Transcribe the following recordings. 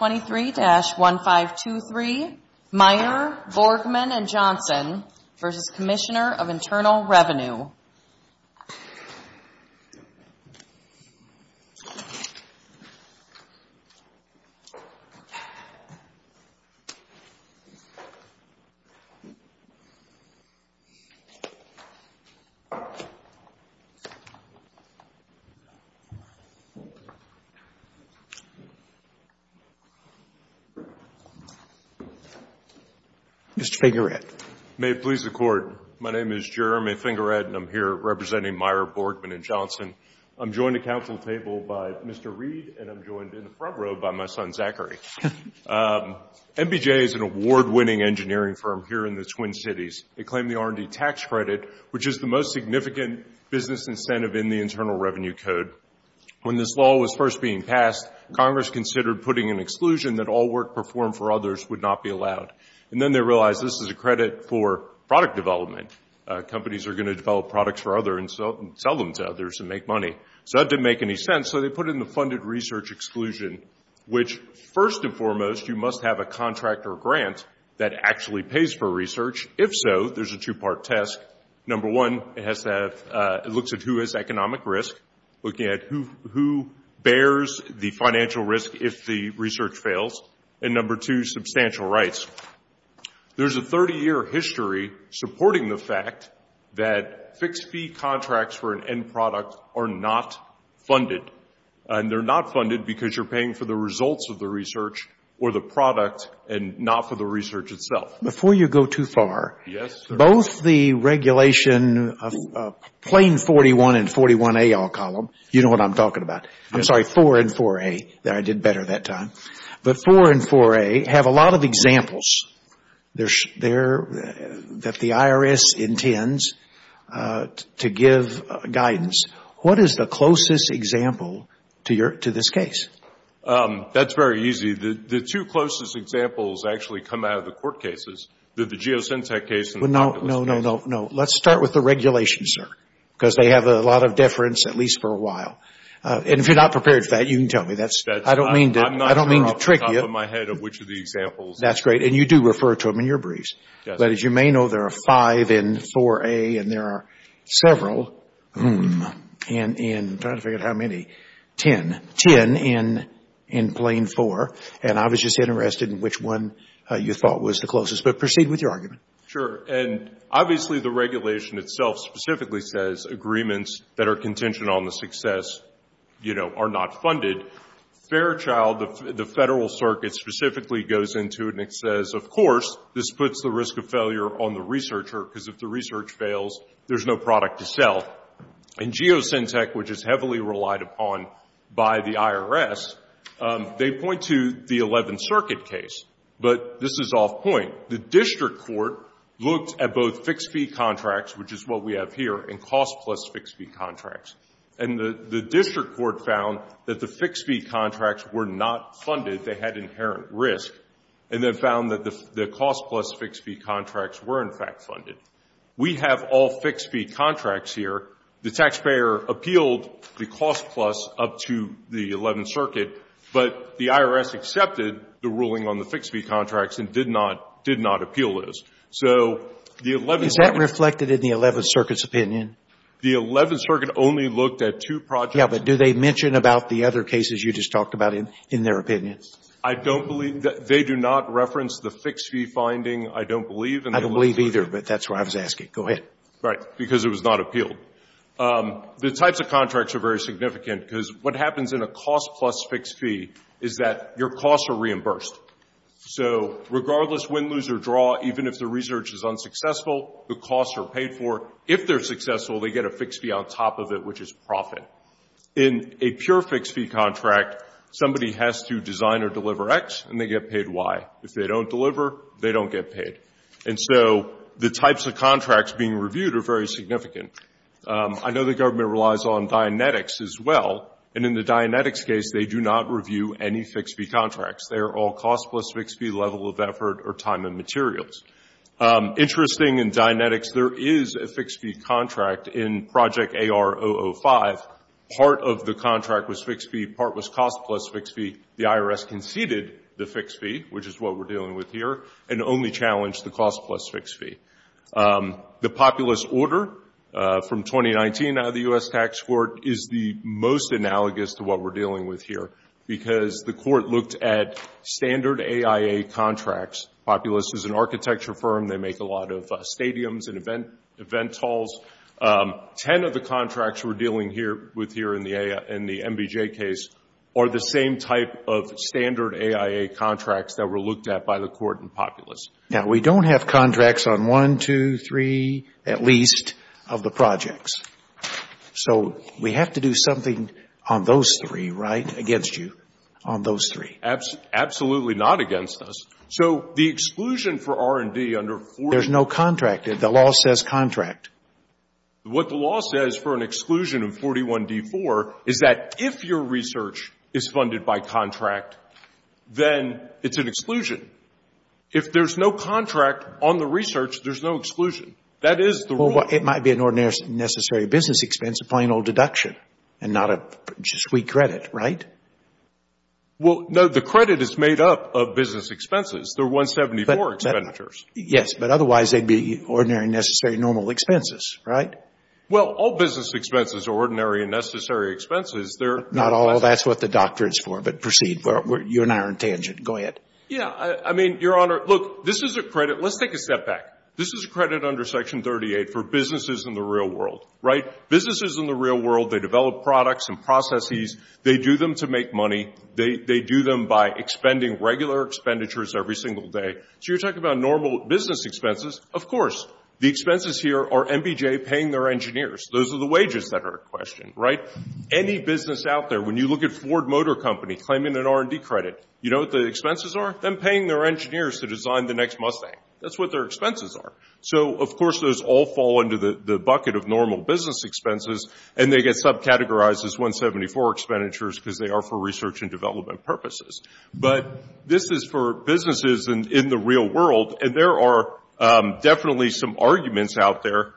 23-1523, Meyer, Borgman & Johnson, v. Commissioner of Internal Revenue Mr. Fingered. May it please the Court. My name is Jeremy Fingered and I'm here representing Meyer, Borgman & Johnson. I'm joined at Council table by Mr. Reed and I'm joined in the front row by my son Zachary. MBJ is an award-winning engineering firm here in the Twin Cities. They claim the R&D tax credit, which is the most significant business incentive in the Internal Revenue Code. When this law was first being passed, Congress considered putting an exclusion that all work performed for others would not be allowed. And then they realized this is a credit for product development. Companies are going to develop products for others and sell them to others and make money. So that didn't make any sense. So they put in the funded research exclusion, which first and foremost, you must have a contract or grant that actually pays for research. If so, there's a two-part test. Number one, it looks at who has economic risk, looking at who bears the financial risk if the research fails. And number two, substantial rights. There's a 30-year history supporting the fact that fixed-fee contracts for an end product are not funded. And they're not funded because you're paying for the results of the research or the product and not for the research itself. Before you go too far, both the regulation of plane 41 and 41A, I'll call them. You know what I'm talking about. I'm sorry, 4 and 4A. I did better that time. But 4 and 4A have a lot of examples that the IRS intends to give guidance. What is the closest example to this case? That's very easy. The two closest examples actually come out of the court cases, the Geosyntec case and the populist case. No, no, no, no. Let's start with the regulations, sir, because they have a lot of deference at least for a while. And if you're not prepared for that, you can tell me. I don't mean to trick you. I'm not sure off the top of my head of which of the examples. That's great. And you do refer to them in your briefs. But as you may know, there are several, and I'm trying to figure out how many, 10 in plane 4. And I was just interested in which one you thought was the closest. But proceed with your argument. Sure. And obviously the regulation itself specifically says agreements that are contingent on the success are not funded. Fairchild, the Federal Circuit, specifically goes into it and it says, of course, this puts the risk of failure on the researcher because if the product is self, and Geosyntec, which is heavily relied upon by the IRS, they point to the 11th Circuit case. But this is off point. The district court looked at both fixed fee contracts, which is what we have here, and cost plus fixed fee contracts. And the district court found that the fixed fee contracts were not funded. They had inherent risk. And they found that the cost plus fixed fee contracts were, in fact, funded. We have all the fixed fee contracts here. The taxpayer appealed the cost plus up to the 11th Circuit, but the IRS accepted the ruling on the fixed fee contracts and did not, did not appeal this. So the 11th Circuit. Is that reflected in the 11th Circuit's opinion? The 11th Circuit only looked at two projects. Yes, but do they mention about the other cases you just talked about in their opinion? I don't believe. They do not reference the fixed fee finding, I don't believe. I don't believe either, but that's why I was asking. Go ahead. Right, because it was not appealed. The types of contracts are very significant because what happens in a cost plus fixed fee is that your costs are reimbursed. So regardless win, lose, or draw, even if the research is unsuccessful, the costs are paid for. If they're successful, they get a fixed fee on top of it, which is profit. In a pure fixed fee contract, somebody has to design or deliver X and they get paid Y. If they don't deliver, they don't get paid. And so the types of contracts being reviewed are very significant. I know the government relies on Dianetics as well, and in the Dianetics case, they do not review any fixed fee contracts. They are all cost plus fixed fee, level of effort, or time and materials. Interesting, in Dianetics, there is a fixed fee contract in Project AR-005. Part of the contract was fixed fee, part was cost plus fixed fee. The IRS conceded the fixed fee, which is what we're dealing with here, and only challenged the cost plus fixed fee. The populist order from 2019 out of the U.S. Tax Court is the most analogous to what we're dealing with here because the court looked at standard AIA contracts. Populist is an architecture firm. They make a lot of stadiums and event halls. Ten of the contracts we're are the same type of standard AIA contracts that were looked at by the court in Populist. Now, we don't have contracts on one, two, three, at least, of the projects. So we have to do something on those three, right, against you, on those three. Absolutely not against us. So the exclusion for R&D under 41D4. There's no contract. The law says contract. What the law says for an exclusion of 41D4 is that if your research is funded by contract, then it's an exclusion. If there's no contract on the research, there's no exclusion. That is the rule. It might be an ordinary necessary business expense, a plain old deduction, and not a sweet credit, right? Well, no, the credit is made up of business expenses. They're 174 expenditures. Yes, but otherwise they'd be ordinary, necessary, normal expenses, right? Well, all business expenses are ordinary and necessary expenses. They're— Not all. That's what the doctrine is for. But proceed. You and I are on tangent. Go ahead. Yeah. I mean, Your Honor, look, this is a credit. Let's take a step back. This is credit under Section 38 for businesses in the real world, right? Businesses in the real world, they develop products and processes. They do them to make money. They do them by expending regular expenditures every single day. So you're talking about normal business expenses. Of course, the expenses here are MBJ paying their engineers. Those are the wages that are questioned, right? Any business out there, when you look at Ford Motor Company claiming an R&D credit, you know what the expenses are? Them paying their engineers to design the next Mustang. That's what their expenses are. So, of course, those all fall into the bucket of normal business expenses, and they get subcategorized as 174 expenditures because they are for research and development purposes. But this is for businesses in the real world, and there are definitely some arguments out there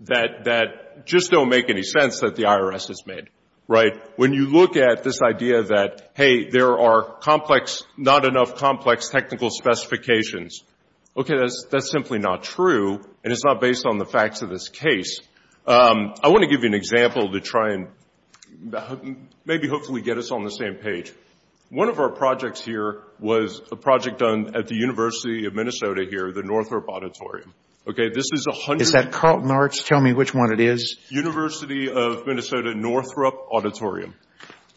that just don't make any sense that the IRS has made, right? When you look at this idea that, hey, there are complex, not enough complex technical specifications, okay, that's simply not true, and it's not based on the facts of this case. I want to give you an example to try and maybe hopefully get us on the same page. One of our projects here was a project done at the University of Minnesota here, the Northrop Auditorium. Okay, this is a hundred... Is that Carlton Arts? Tell me which one it is. University of Minnesota Northrop Auditorium.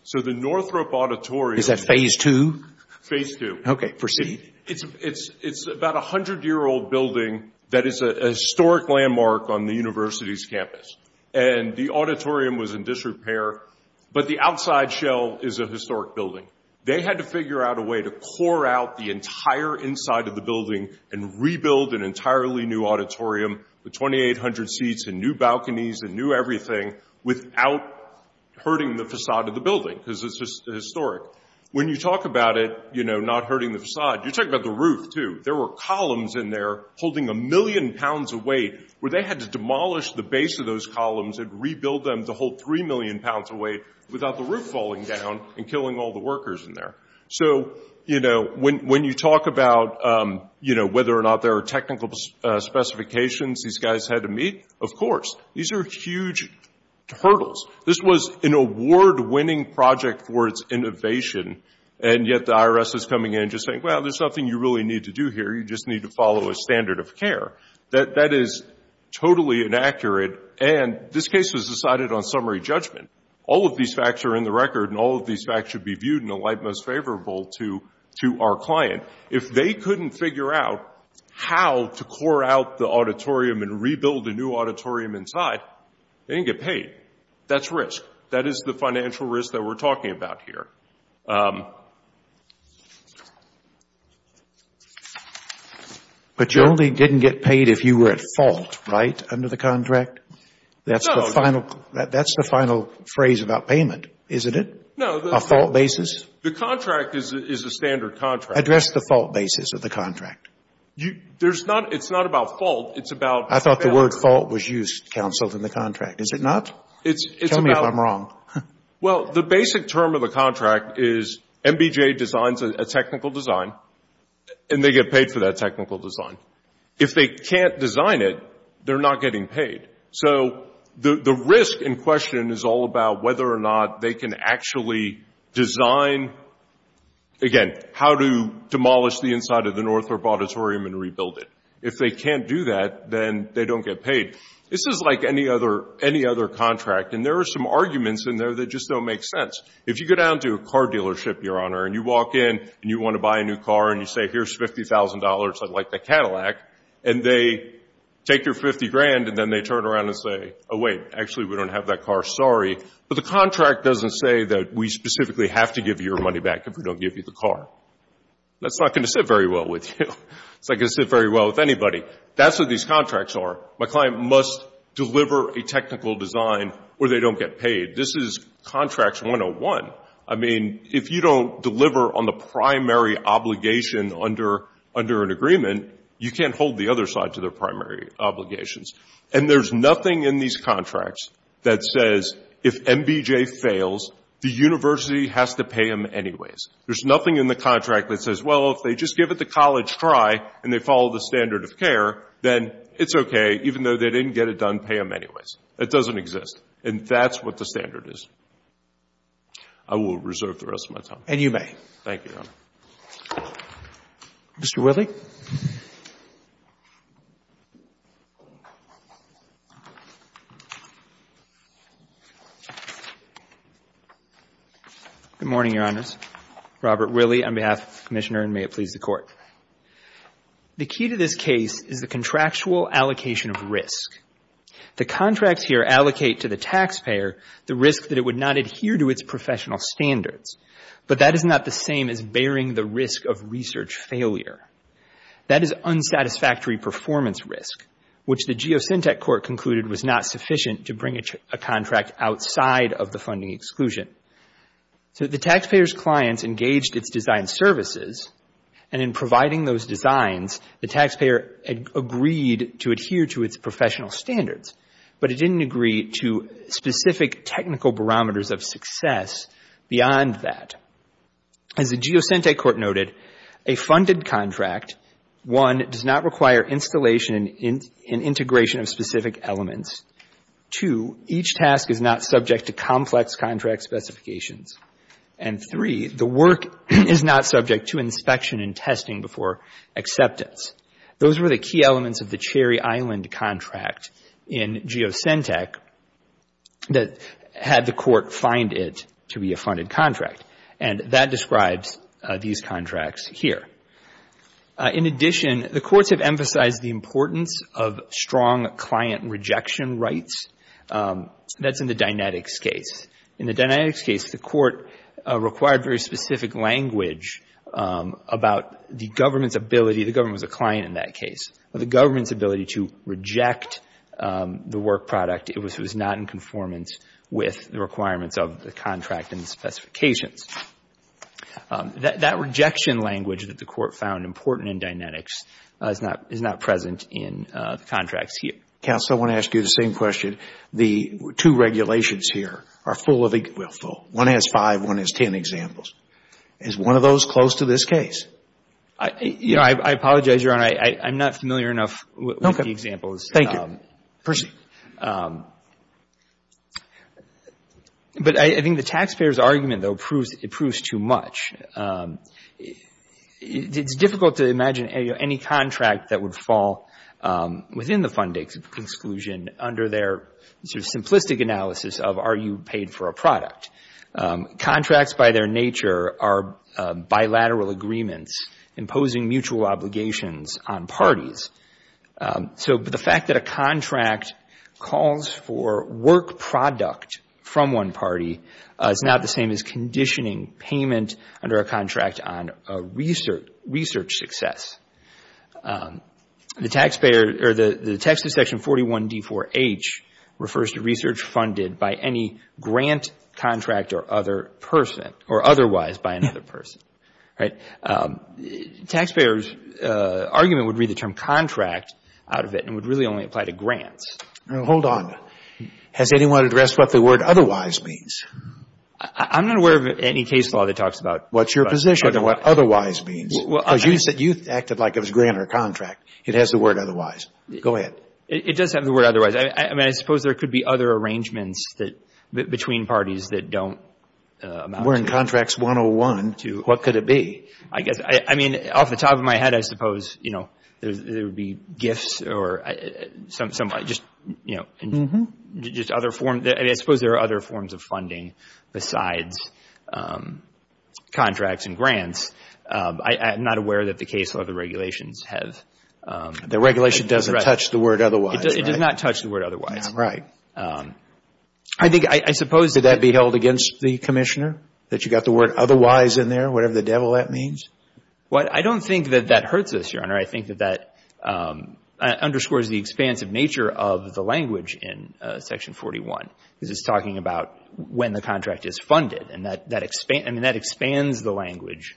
So the Northrop Auditorium... Is that phase two? Phase two. Okay, proceed. It's about a hundred-year-old building that is a historic landmark on the university's campus, and the auditorium was in disrepair, but the outside shell is a historic building. They had to figure out a way to core out the entire inside of the building and rebuild an entirely new auditorium, with 2,800 seats and new balconies and new everything, without hurting the facade of the building, because it's just historic. When you talk about it, you know, not hurting the facade, you're talking about the roof, too. There were columns in there holding a million pounds of weight, where they had to demolish the base of those columns and rebuild them to hold three million pounds of weight without the roof falling down and killing all the workers in there. So, you know, when you talk about, you know, whether or not there are technical specifications these guys had to meet, of course, these are huge hurdles. This was an award-winning project for its innovation, and yet the IRS is coming in and just saying, well, there's nothing you really need to do here. You just need to follow a standard of care. That is totally inaccurate, and this case was decided on summary judgment. All of these facts are in the record, and all of these facts should be viewed in a light most favorable to our client. If they couldn't figure out how to core out the auditorium and rebuild a new auditorium inside, they didn't get paid. That's risk. That is the financial risk that we're talking about here. But you only didn't get paid if you were at fault, right, under the contract? That's the final phrase about payment, isn't it? No. A fault basis? The contract is a standard contract. Address the fault basis of the contract. It's not about fault. It's about balance. I thought the word fault was used, counsel, in the contract. Is it not? Tell me if I'm wrong. Well, the basic term of the contract is MBJ designs a technical design, and they get paid for that technical design. If they can't design it, they're not getting paid. The risk in question is all about whether or not they can actually design, again, how to demolish the inside of the Northrop Auditorium and rebuild it. If they can't do that, then they don't get paid. This is like any other contract, and there are some arguments in there that just don't make sense. If you go down to a car dealership, Your Honor, and you walk in and you want to buy a new car, and you say, here's $50,000, I'd like the Cadillac, and they take your $50,000, and then they turn around and say, oh, wait, actually, we don't have that car. Sorry. But the contract doesn't say that we specifically have to give you your money back if we don't give you the car. That's not going to sit very well with you. It's not going to sit very well with anybody. That's what these contracts are. My client must deliver a technical design or they don't get paid. This is Contracts 101. I mean, if you don't deliver on the primary obligation under an agreement, you can't hold the other side to their primary obligations. And there's nothing in these contracts that says, if MBJ fails, the university has to pay them anyways. There's nothing in the contract that says, well, if they just give it the college try and they follow the standard of care, then it's okay. Even though they didn't get it done, pay them anyways. That doesn't exist. And that's what the standard is. I will reserve the rest of my time. And you may. Thank you, Your Honor. Mr. Willey. Good morning, Your Honors. Robert Willey on behalf of the Commissioner, and may it please the Court. The key to this case is the contractual allocation of risk. The contracts here allocate to the taxpayer the risk that it would not adhere to its professional standards. But that is not the same as bearing the risk of research failure. That is unsatisfactory performance risk, which the Geosyntec Court concluded was not sufficient to bring a contract outside of the funding exclusion. So the taxpayer's clients engaged its design services, and in providing those designs, the taxpayer agreed to adhere to its professional standards, but it didn't agree to specific technical barometers of success beyond that. As the Geosyntec Court noted, a funded contract, one, does not require installation and integration of specific elements. Two, each task is not subject to complex contract specifications. And three, the work is not subject to inspection and testing before acceptance. Those were the key elements of the Cherry Island contract in Geosyntec that had the Court find it to be a funded contract. And that describes these contracts here. In addition, the courts have emphasized the importance of strong client rejection rights. That's in the Dynetics case. In the Dynetics case, the Court required very specific language about the government's ability, the government was a client in that case, but the government's ability to reject the work product, it was not in conformance with the requirements of the contract and the specifications. That rejection language that the Court found important in Dynetics is not present in the contracts here. Counsel, I want to ask you the same question. The two regulations here are full of, well, full. One has five, one has ten examples. Is one of those close to this case? You know, I apologize, Your Honor. I'm not familiar enough with the examples. Thank you. But I think the taxpayer's argument, though, proves too much. It's difficult to imagine any contract that would fall within the fund exclusion under their sort of simplistic analysis of are you paid for a product. Contracts by their nature are bilateral agreements imposing mutual obligations on parties. So the fact that a contract calls for work product from one party is not the same as conditioning payment under a contract on a research success. The taxpayer, or the text of section 41D4H refers to research funded by any grant contract or other person, or otherwise by another person, right? Taxpayers' argument would read the term contract out of it and would really only apply to grants. Now, hold on. Has anyone addressed what the word otherwise means? I'm not aware of any case law that talks about what's your position and what otherwise means. Because you said you acted like it was grant or contract. It has the word otherwise. Go ahead. It does have the word otherwise. I mean, I suppose there could be other arrangements that between parties that don't. We're in Contracts 101. What could it be? I guess, I mean, off the top of my head, I suppose, you know, there would be gifts or some, just, you know, just other forms. I suppose there are other forms of funding besides contracts and grants. I'm not aware that the case law, the regulations have. The regulation doesn't touch the word otherwise, right? It does not touch the word otherwise. Right. I think, I suppose... Would that be held against the commissioner? That you got the word otherwise in there? Whatever the devil that means? Well, I don't think that that hurts us, Your Honor. I think that that underscores the expansive nature of the language in Section 41. Because it's talking about when the contract is funded. And that expands the language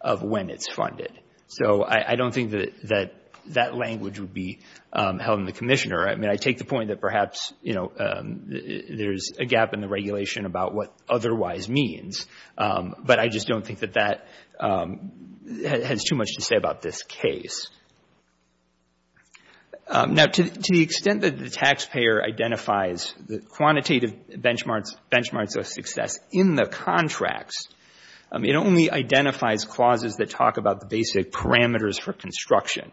of when it's funded. So I don't think that that language would be held in the commissioner. I mean, I take the point that perhaps, you know, there's a gap in the regulation about what otherwise means. But I just don't think that that has too much to say about this case. Now, to the extent that the taxpayer identifies the quantitative benchmarks of success in the contracts, it only identifies clauses that talk about the basic parameters for construction.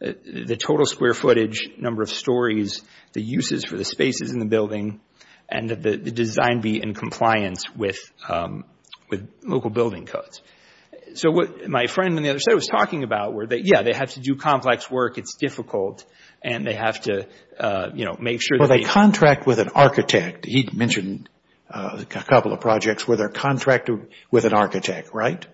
The total square footage, number of stories, the uses for the spaces in the building, and that the design be in compliance with local building codes. So what my friend on the other side was talking about, were that, yeah, they have to do complex work. It's difficult. And they have to, you know, make sure that... Well, they contract with an architect. He mentioned a couple of projects where they're contracted with an architect, right?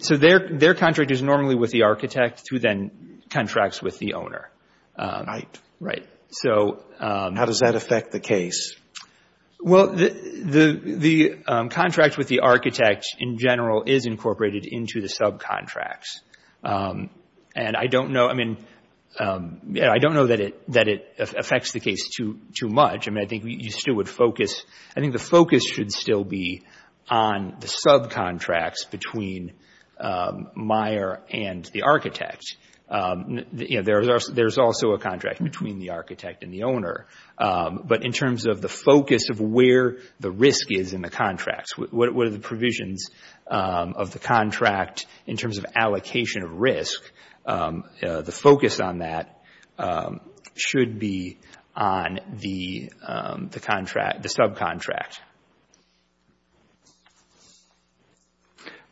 So their contract is normally with the architect, who then contracts with the owner. Right. Right. How does that affect the case? Well, the contract with the architect, in general, is incorporated into the subcontracts. And I don't know, I mean, I don't know that it affects the case too much. I mean, I think you still would focus... I think the focus should still be on the subcontracts between Meyer and the architect. You know, there's also a contract between the architect and the owner. But in terms of the focus of where the risk is in the contracts, what are the provisions of the contract in terms of allocation of risk, the focus on that should be on the contract, the subcontract.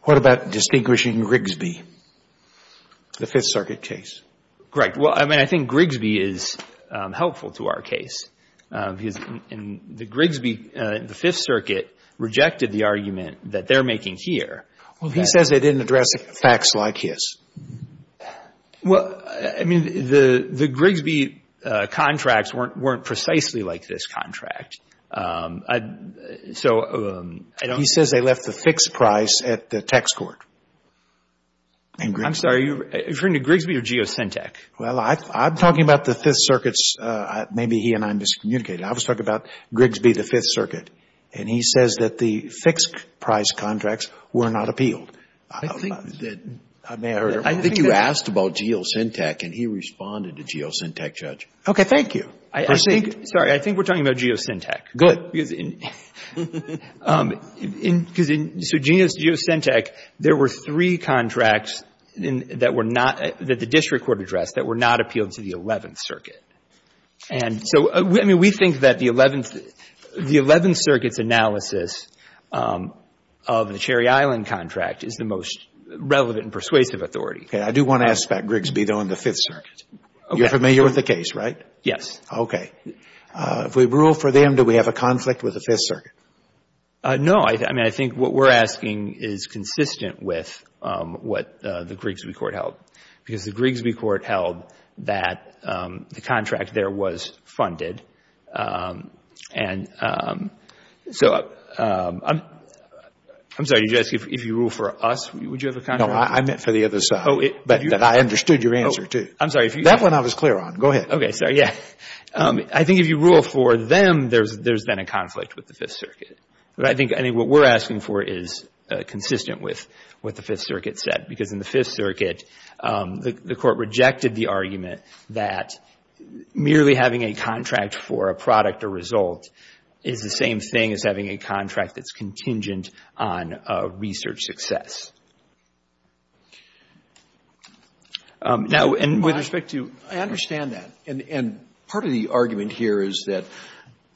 What about distinguishing Rigsby? The Fifth Circuit case. Right. Well, I mean, I think Rigsby is helpful to our case. Because in the Rigsby, the Fifth Circuit rejected the argument that they're making here. Well, he says they didn't address facts like his. Well, I mean, the Rigsby contracts weren't precisely like this contract. So I don't... He says they left the fixed price at the tax court. I'm sorry. Are you referring to Rigsby or Geosyntec? Well, I'm talking about the Fifth Circuit's... Maybe he and I miscommunicated. I was talking about Rigsby, the Fifth Circuit. And he says that the fixed price contracts were not appealed. I think that... May I hear? I think you asked about Geosyntec and he responded to Geosyntec, Judge. Okay. Thank you. Sorry. I think we're talking about Geosyntec. Good. Because in, so Geosyntec, there were three contracts that were not, that the district court addressed that were not appealed to the Eleventh Circuit. And so, I mean, we think that the Eleventh Circuit's analysis of the Cherry Island contract is the most relevant and persuasive authority. Okay. I do want to ask about Rigsby, though, in the Fifth Circuit. You're familiar with the case, right? Yes. Okay. If we rule for them, do we have a conflict with the Fifth Circuit? No. I mean, I think what we're asking is consistent with what the Rigsby Court held. Because the Rigsby Court held that the contract there was funded. And so, I'm sorry, did you ask if you rule for us, would you have a contract? No, I meant for the other side. But I understood your answer, too. I'm sorry, if you... That one I was clear on. Go ahead. Okay. Sorry. Yeah. I think if you rule for them, there's then a conflict with the Fifth Circuit. But I think what we're asking for is consistent with what the Fifth Circuit said. Because in the Fifth Circuit, the Court rejected the argument that merely having a contract for a product or result is the same thing as having a contract that's contingent on research success. Now, and with respect to... I understand that. And part of the argument here is that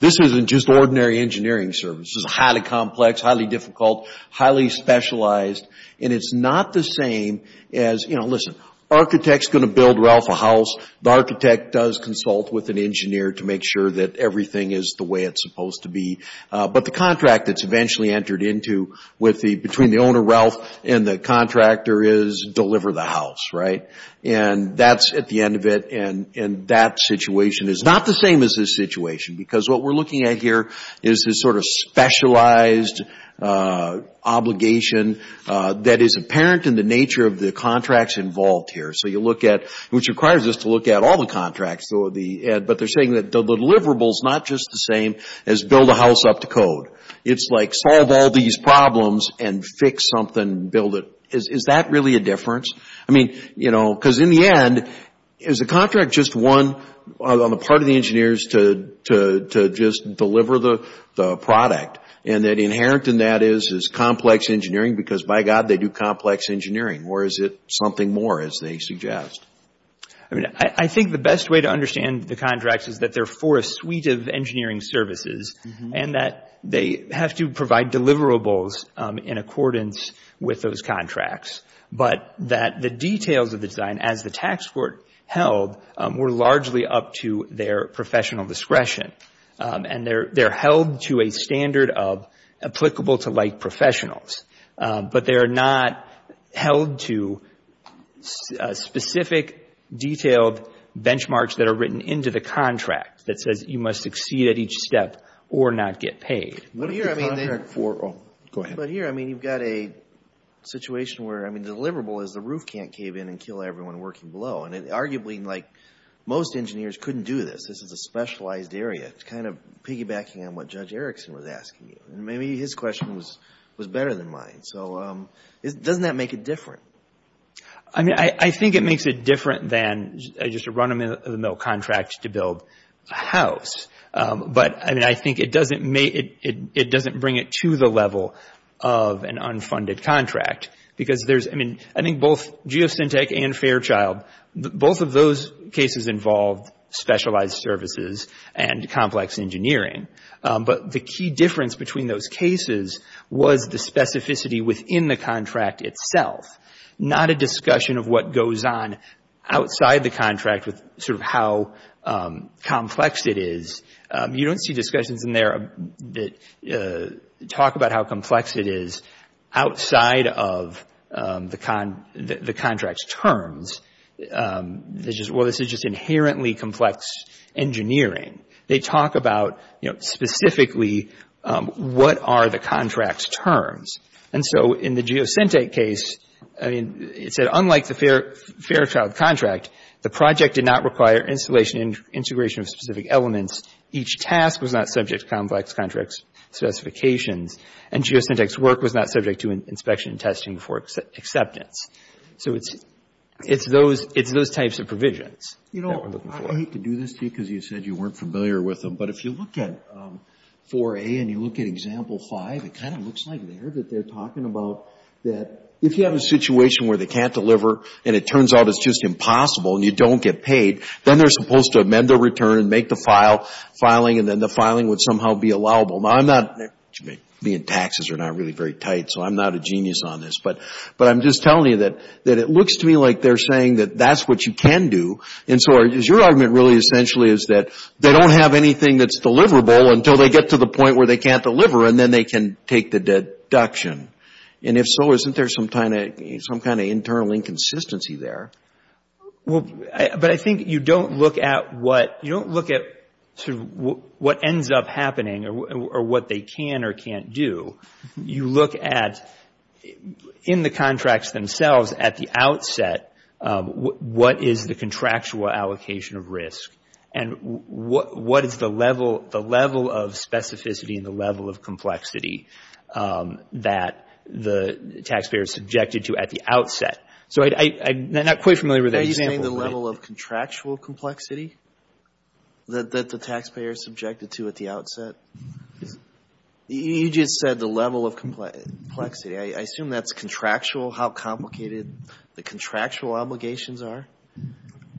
this isn't just ordinary engineering service. This is highly complex, highly difficult, highly specialized. And it's not the same as, you know, listen, architect's going to build Ralph a house. The architect does consult with an engineer to make sure that everything is the way it's supposed to be. But the contract that's eventually entered into between the owner Ralph and the contractor is deliver the house, right? And that's at the end of it. And that situation is not the same as this situation. Because what we're looking at here is this sort of specialized obligation that is apparent in the nature of the contracts involved here. So you look at, which requires us to look at all the contracts. But they're saying that the deliverable is not just the same as build a house up to code. It's like solve all these problems and fix something and build it. Is that really a difference? I mean, you know, because in the end, is the contract just one on the part of the engineers to just deliver the product? And that inherent in that is complex engineering? Because by God, they do complex engineering. Or is it something more as they suggest? I mean, I think the best way to understand the contracts is that they're for a suite of engineering services. And that they have to provide deliverables in accordance with those contracts. But that the details of the design, as the tax court held, were largely up to their professional discretion. And they're held to a standard of applicable to like professionals. But they are not held to specific detailed benchmarks that are written into the contract that says you must succeed at each step or not get paid. But here, I mean, you've got a situation where, I mean, the deliverable is the roof can't cave in and kill everyone working below. And arguably, like most engineers couldn't do this. This is a specialized area. It's kind of piggybacking on what Judge Erickson was asking you. Maybe his question was better than mine. So doesn't that make it different? I mean, I think it makes it different than just a run of the mill contract to build a house. But I mean, I think it doesn't bring it to the level of an unfunded contract. Because there's, I mean, I think both Geosyntec and Fairchild, both of those cases involved specialized services and complex engineering. But the key difference between those cases was the specificity within the contract itself. Not a discussion of what goes on outside the contract with sort of how complex it is. You don't see discussions in there that talk about how complex it is outside of the contract's terms. Well, this is just inherently complex engineering. They talk about, you know, specifically what are the contract's terms. And so in the Geosyntec case, I mean, it said unlike the Fairchild contract, the project did not require installation and integration of specific elements. Each task was not subject to complex contract specifications. And Geosyntec's work was not subject to inspection and testing for acceptance. So it's those types of provisions that we're looking for. I hate to do this to you because you said you weren't familiar with them. But if you look at 4A and you look at example 5, it kind of looks like there that they're talking about that if you have a situation where they can't deliver and it turns out it's just impossible and you don't get paid, then they're supposed to amend the return and make the filing, and then the filing would somehow be allowable. Now, I'm not – taxes are not really very tight, so I'm not a genius on this. But I'm just telling you that it looks to me like they're saying that that's what you can do. And so your argument really essentially is that they don't have anything that's deliverable until they get to the point where they can't deliver, and then they can take the deduction. And if so, isn't there some kind of internal inconsistency there? Well, but I think you don't look at what – you don't look at sort of what ends up happening or what they can or can't do. You look at in the contracts themselves at the outset what is the contractual allocation of risk and what is the level of specificity and the level of complexity that the taxpayer is subjected to at the outset. So I'm not quite familiar with that example. Are you saying the level of contractual complexity that the taxpayer is subjected to at the outset? You just said the level of complexity. I assume that's contractual, how complicated the contractual obligations are.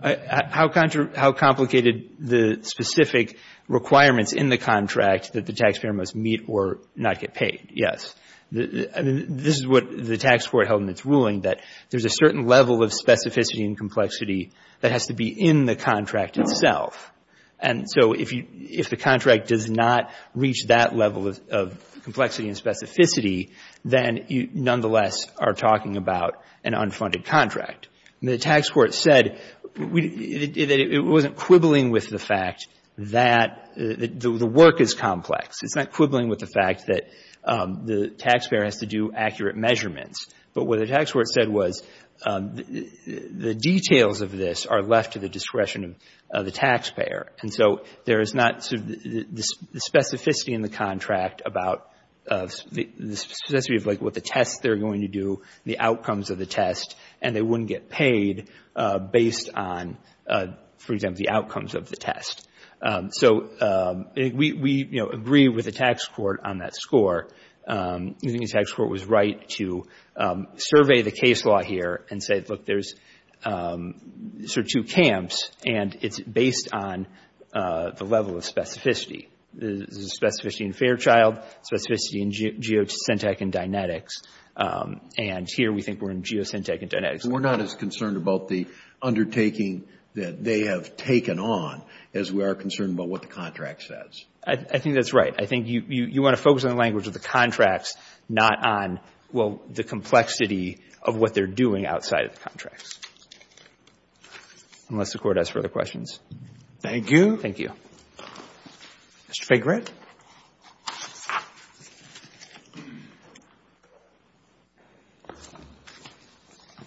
How complicated the specific requirements in the contract that the taxpayer must meet or not get paid, yes. I mean, this is what the tax court held in its ruling, that there's a certain level of specificity and complexity that has to be in the contract itself. And so if the contract does not reach that level of complexity and specificity, then you nonetheless are talking about an unfunded contract. The tax court said that it wasn't quibbling with the fact that the work is complex. It's not quibbling with the fact that the taxpayer has to do accurate measurements. But what the tax court said was the details of this are left to the discretion of the taxpayer. And so there is not the specificity in the contract about the specificity of what the tests they're going to do, the outcomes of the test, and they wouldn't get paid based on, for example, the outcomes of the test. So we agree with the tax court on that score. I think the tax court was right to survey the case law here and say, look, there's sort of two camps, and it's based on the level of specificity. There's a specificity in Fairchild, specificity in Geosyntec and Dynetics. And here we think we're in Geosyntec and Dynetics. We're not as concerned about the undertaking that they have taken on as we are concerned about what the contract says. I think that's right. I think you want to focus on the language of the contracts, not on, well, the complexity of what they're doing outside of the contracts. Unless the Court has further questions. Thank you. Thank you. Mr. Fahy, grant?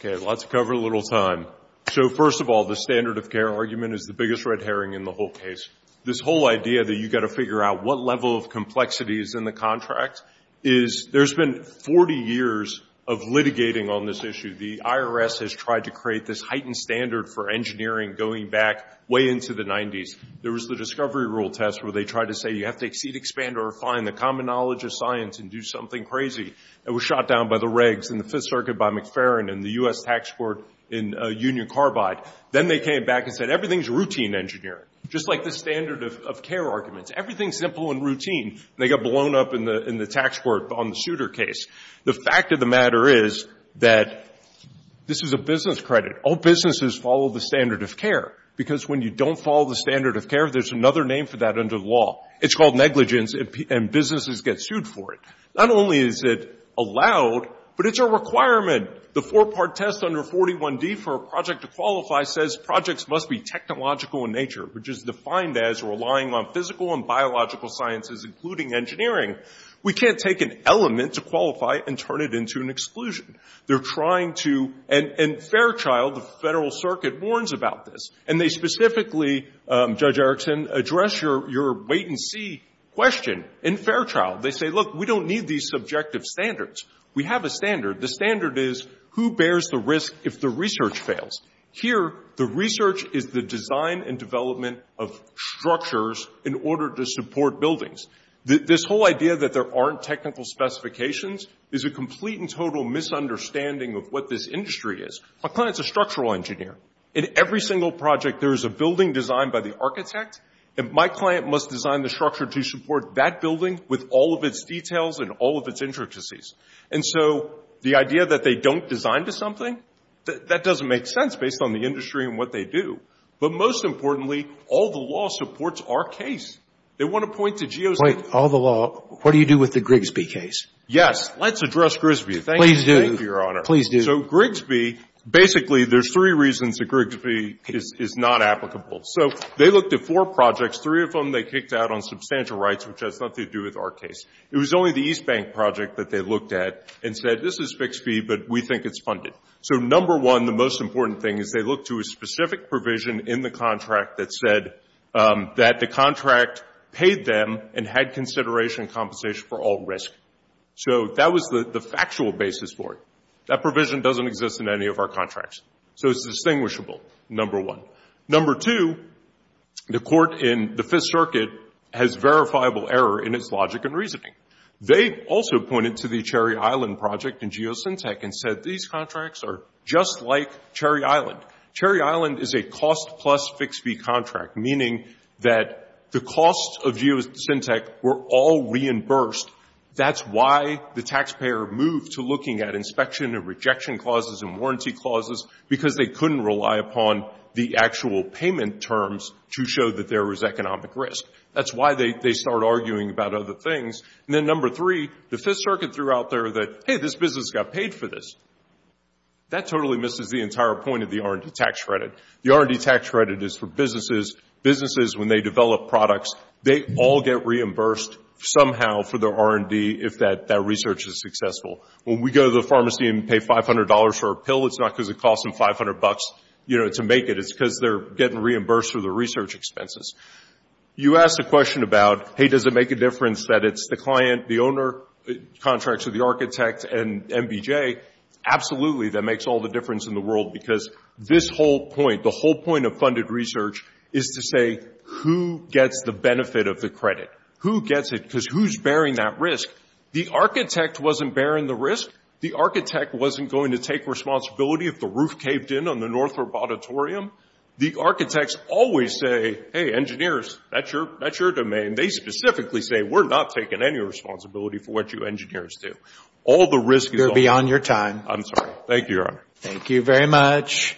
Okay, lots of cover, little time. So first of all, the standard of care argument is the biggest red herring in the whole case. This whole idea that you've got to figure out what level of complexity is in the contract is there's been 40 years of litigating on this issue. The IRS has tried to create this heightened standard for engineering going back way into the 90s. There was the Discovery Rule test where they tried to say, you have to exceed, expand, or refine the common knowledge of science and do something crazy. It was shot down by the regs in the Fifth Circuit by McFerrin and the U.S. Tax Court in Union Carbide. Then they came back and said, everything's routine engineering, just like the standard of care arguments. Everything's simple and routine. They got blown up in the tax court on the Souter case. The fact of the matter is that this is a business credit. All businesses follow the standard of care. Because when you don't follow the standard of care, there's another name for that under the law. It's called negligence, and businesses get sued for it. Not only is it allowed, but it's a requirement. The four-part test under 41D for a project to qualify says projects must be technological in nature, which is defined as relying on physical and biological sciences, including engineering. We can't take an element to qualify and turn it into an exclusion. They're trying to—and Fairchild, the Federal Circuit, warns about this. And they specifically, Judge Erickson, address your wait-and-see question in Fairchild. They say, look, we don't need these subjective standards. We have a standard. The standard is, who bears the risk if the research fails? Here, the research is the design and development of structures in order to support buildings. This whole idea that there aren't technical specifications is a complete and total misunderstanding of what this industry is. A client's a structural engineer. In every single project, there is a building designed by the architect, and my client must design the structure to support that building with all of its details and all of its intricacies. And so the idea that they don't design to something, that doesn't make sense based on the industry and what they do. But most importantly, all the law supports our case. They want to point to Geo— Point all the law. What do you do with the Grigsby case? Yes. Let's address Grigsby. Thank you, Your Honor. Please do. So Grigsby, basically, there's three reasons that Grigsby is not applicable. So they looked at four projects. Three of them they kicked out on substantial rights, which has nothing to do with our case. It was only the East Bank project that they looked at and said, this is fixed fee, but we think it's funded. So number one, the most important thing is they looked to a specific provision in the contract, paid them, and had consideration and compensation for all risk. So that was the factual basis for it. That provision doesn't exist in any of our contracts. So it's distinguishable, number one. Number two, the court in the Fifth Circuit has verifiable error in its logic and reasoning. They also pointed to the Cherry Island project in Geosyntec and said, these contracts are just like Cherry Island. Cherry Island is a cost plus fixed fee contract, meaning that the costs of Geosyntec were all reimbursed. That's why the taxpayer moved to looking at inspection and rejection clauses and warranty clauses, because they couldn't rely upon the actual payment terms to show that there was economic risk. That's why they start arguing about other things. And then number three, the Fifth Circuit threw out there that, hey, this business got paid for this. That totally misses the entire point of the R&D tax credit. The R&D tax credit is for businesses. Businesses, when they develop products, they all get reimbursed somehow for their R&D if that research is successful. When we go to the pharmacy and pay $500 for a pill, it's not because it cost them 500 bucks to make it. It's because they're getting reimbursed for their research expenses. You ask a question about, hey, does it make a difference that it's the client, the owner, contracts with the architect, and MBJ? Absolutely, that makes all the difference in the world, because this whole point, the whole point of funded research is to say, who gets the benefit of the credit? Who gets it? Because who's bearing that risk? The architect wasn't bearing the risk. The architect wasn't going to take responsibility if the roof caved in on the Northrop Auditorium. The architects always say, hey, engineers, that's your domain. They specifically say, we're not taking any responsibility for what you engineers do. All the risk is on you. You're beyond your time. I'm sorry. Thank you, Your Honor. Thank you very much.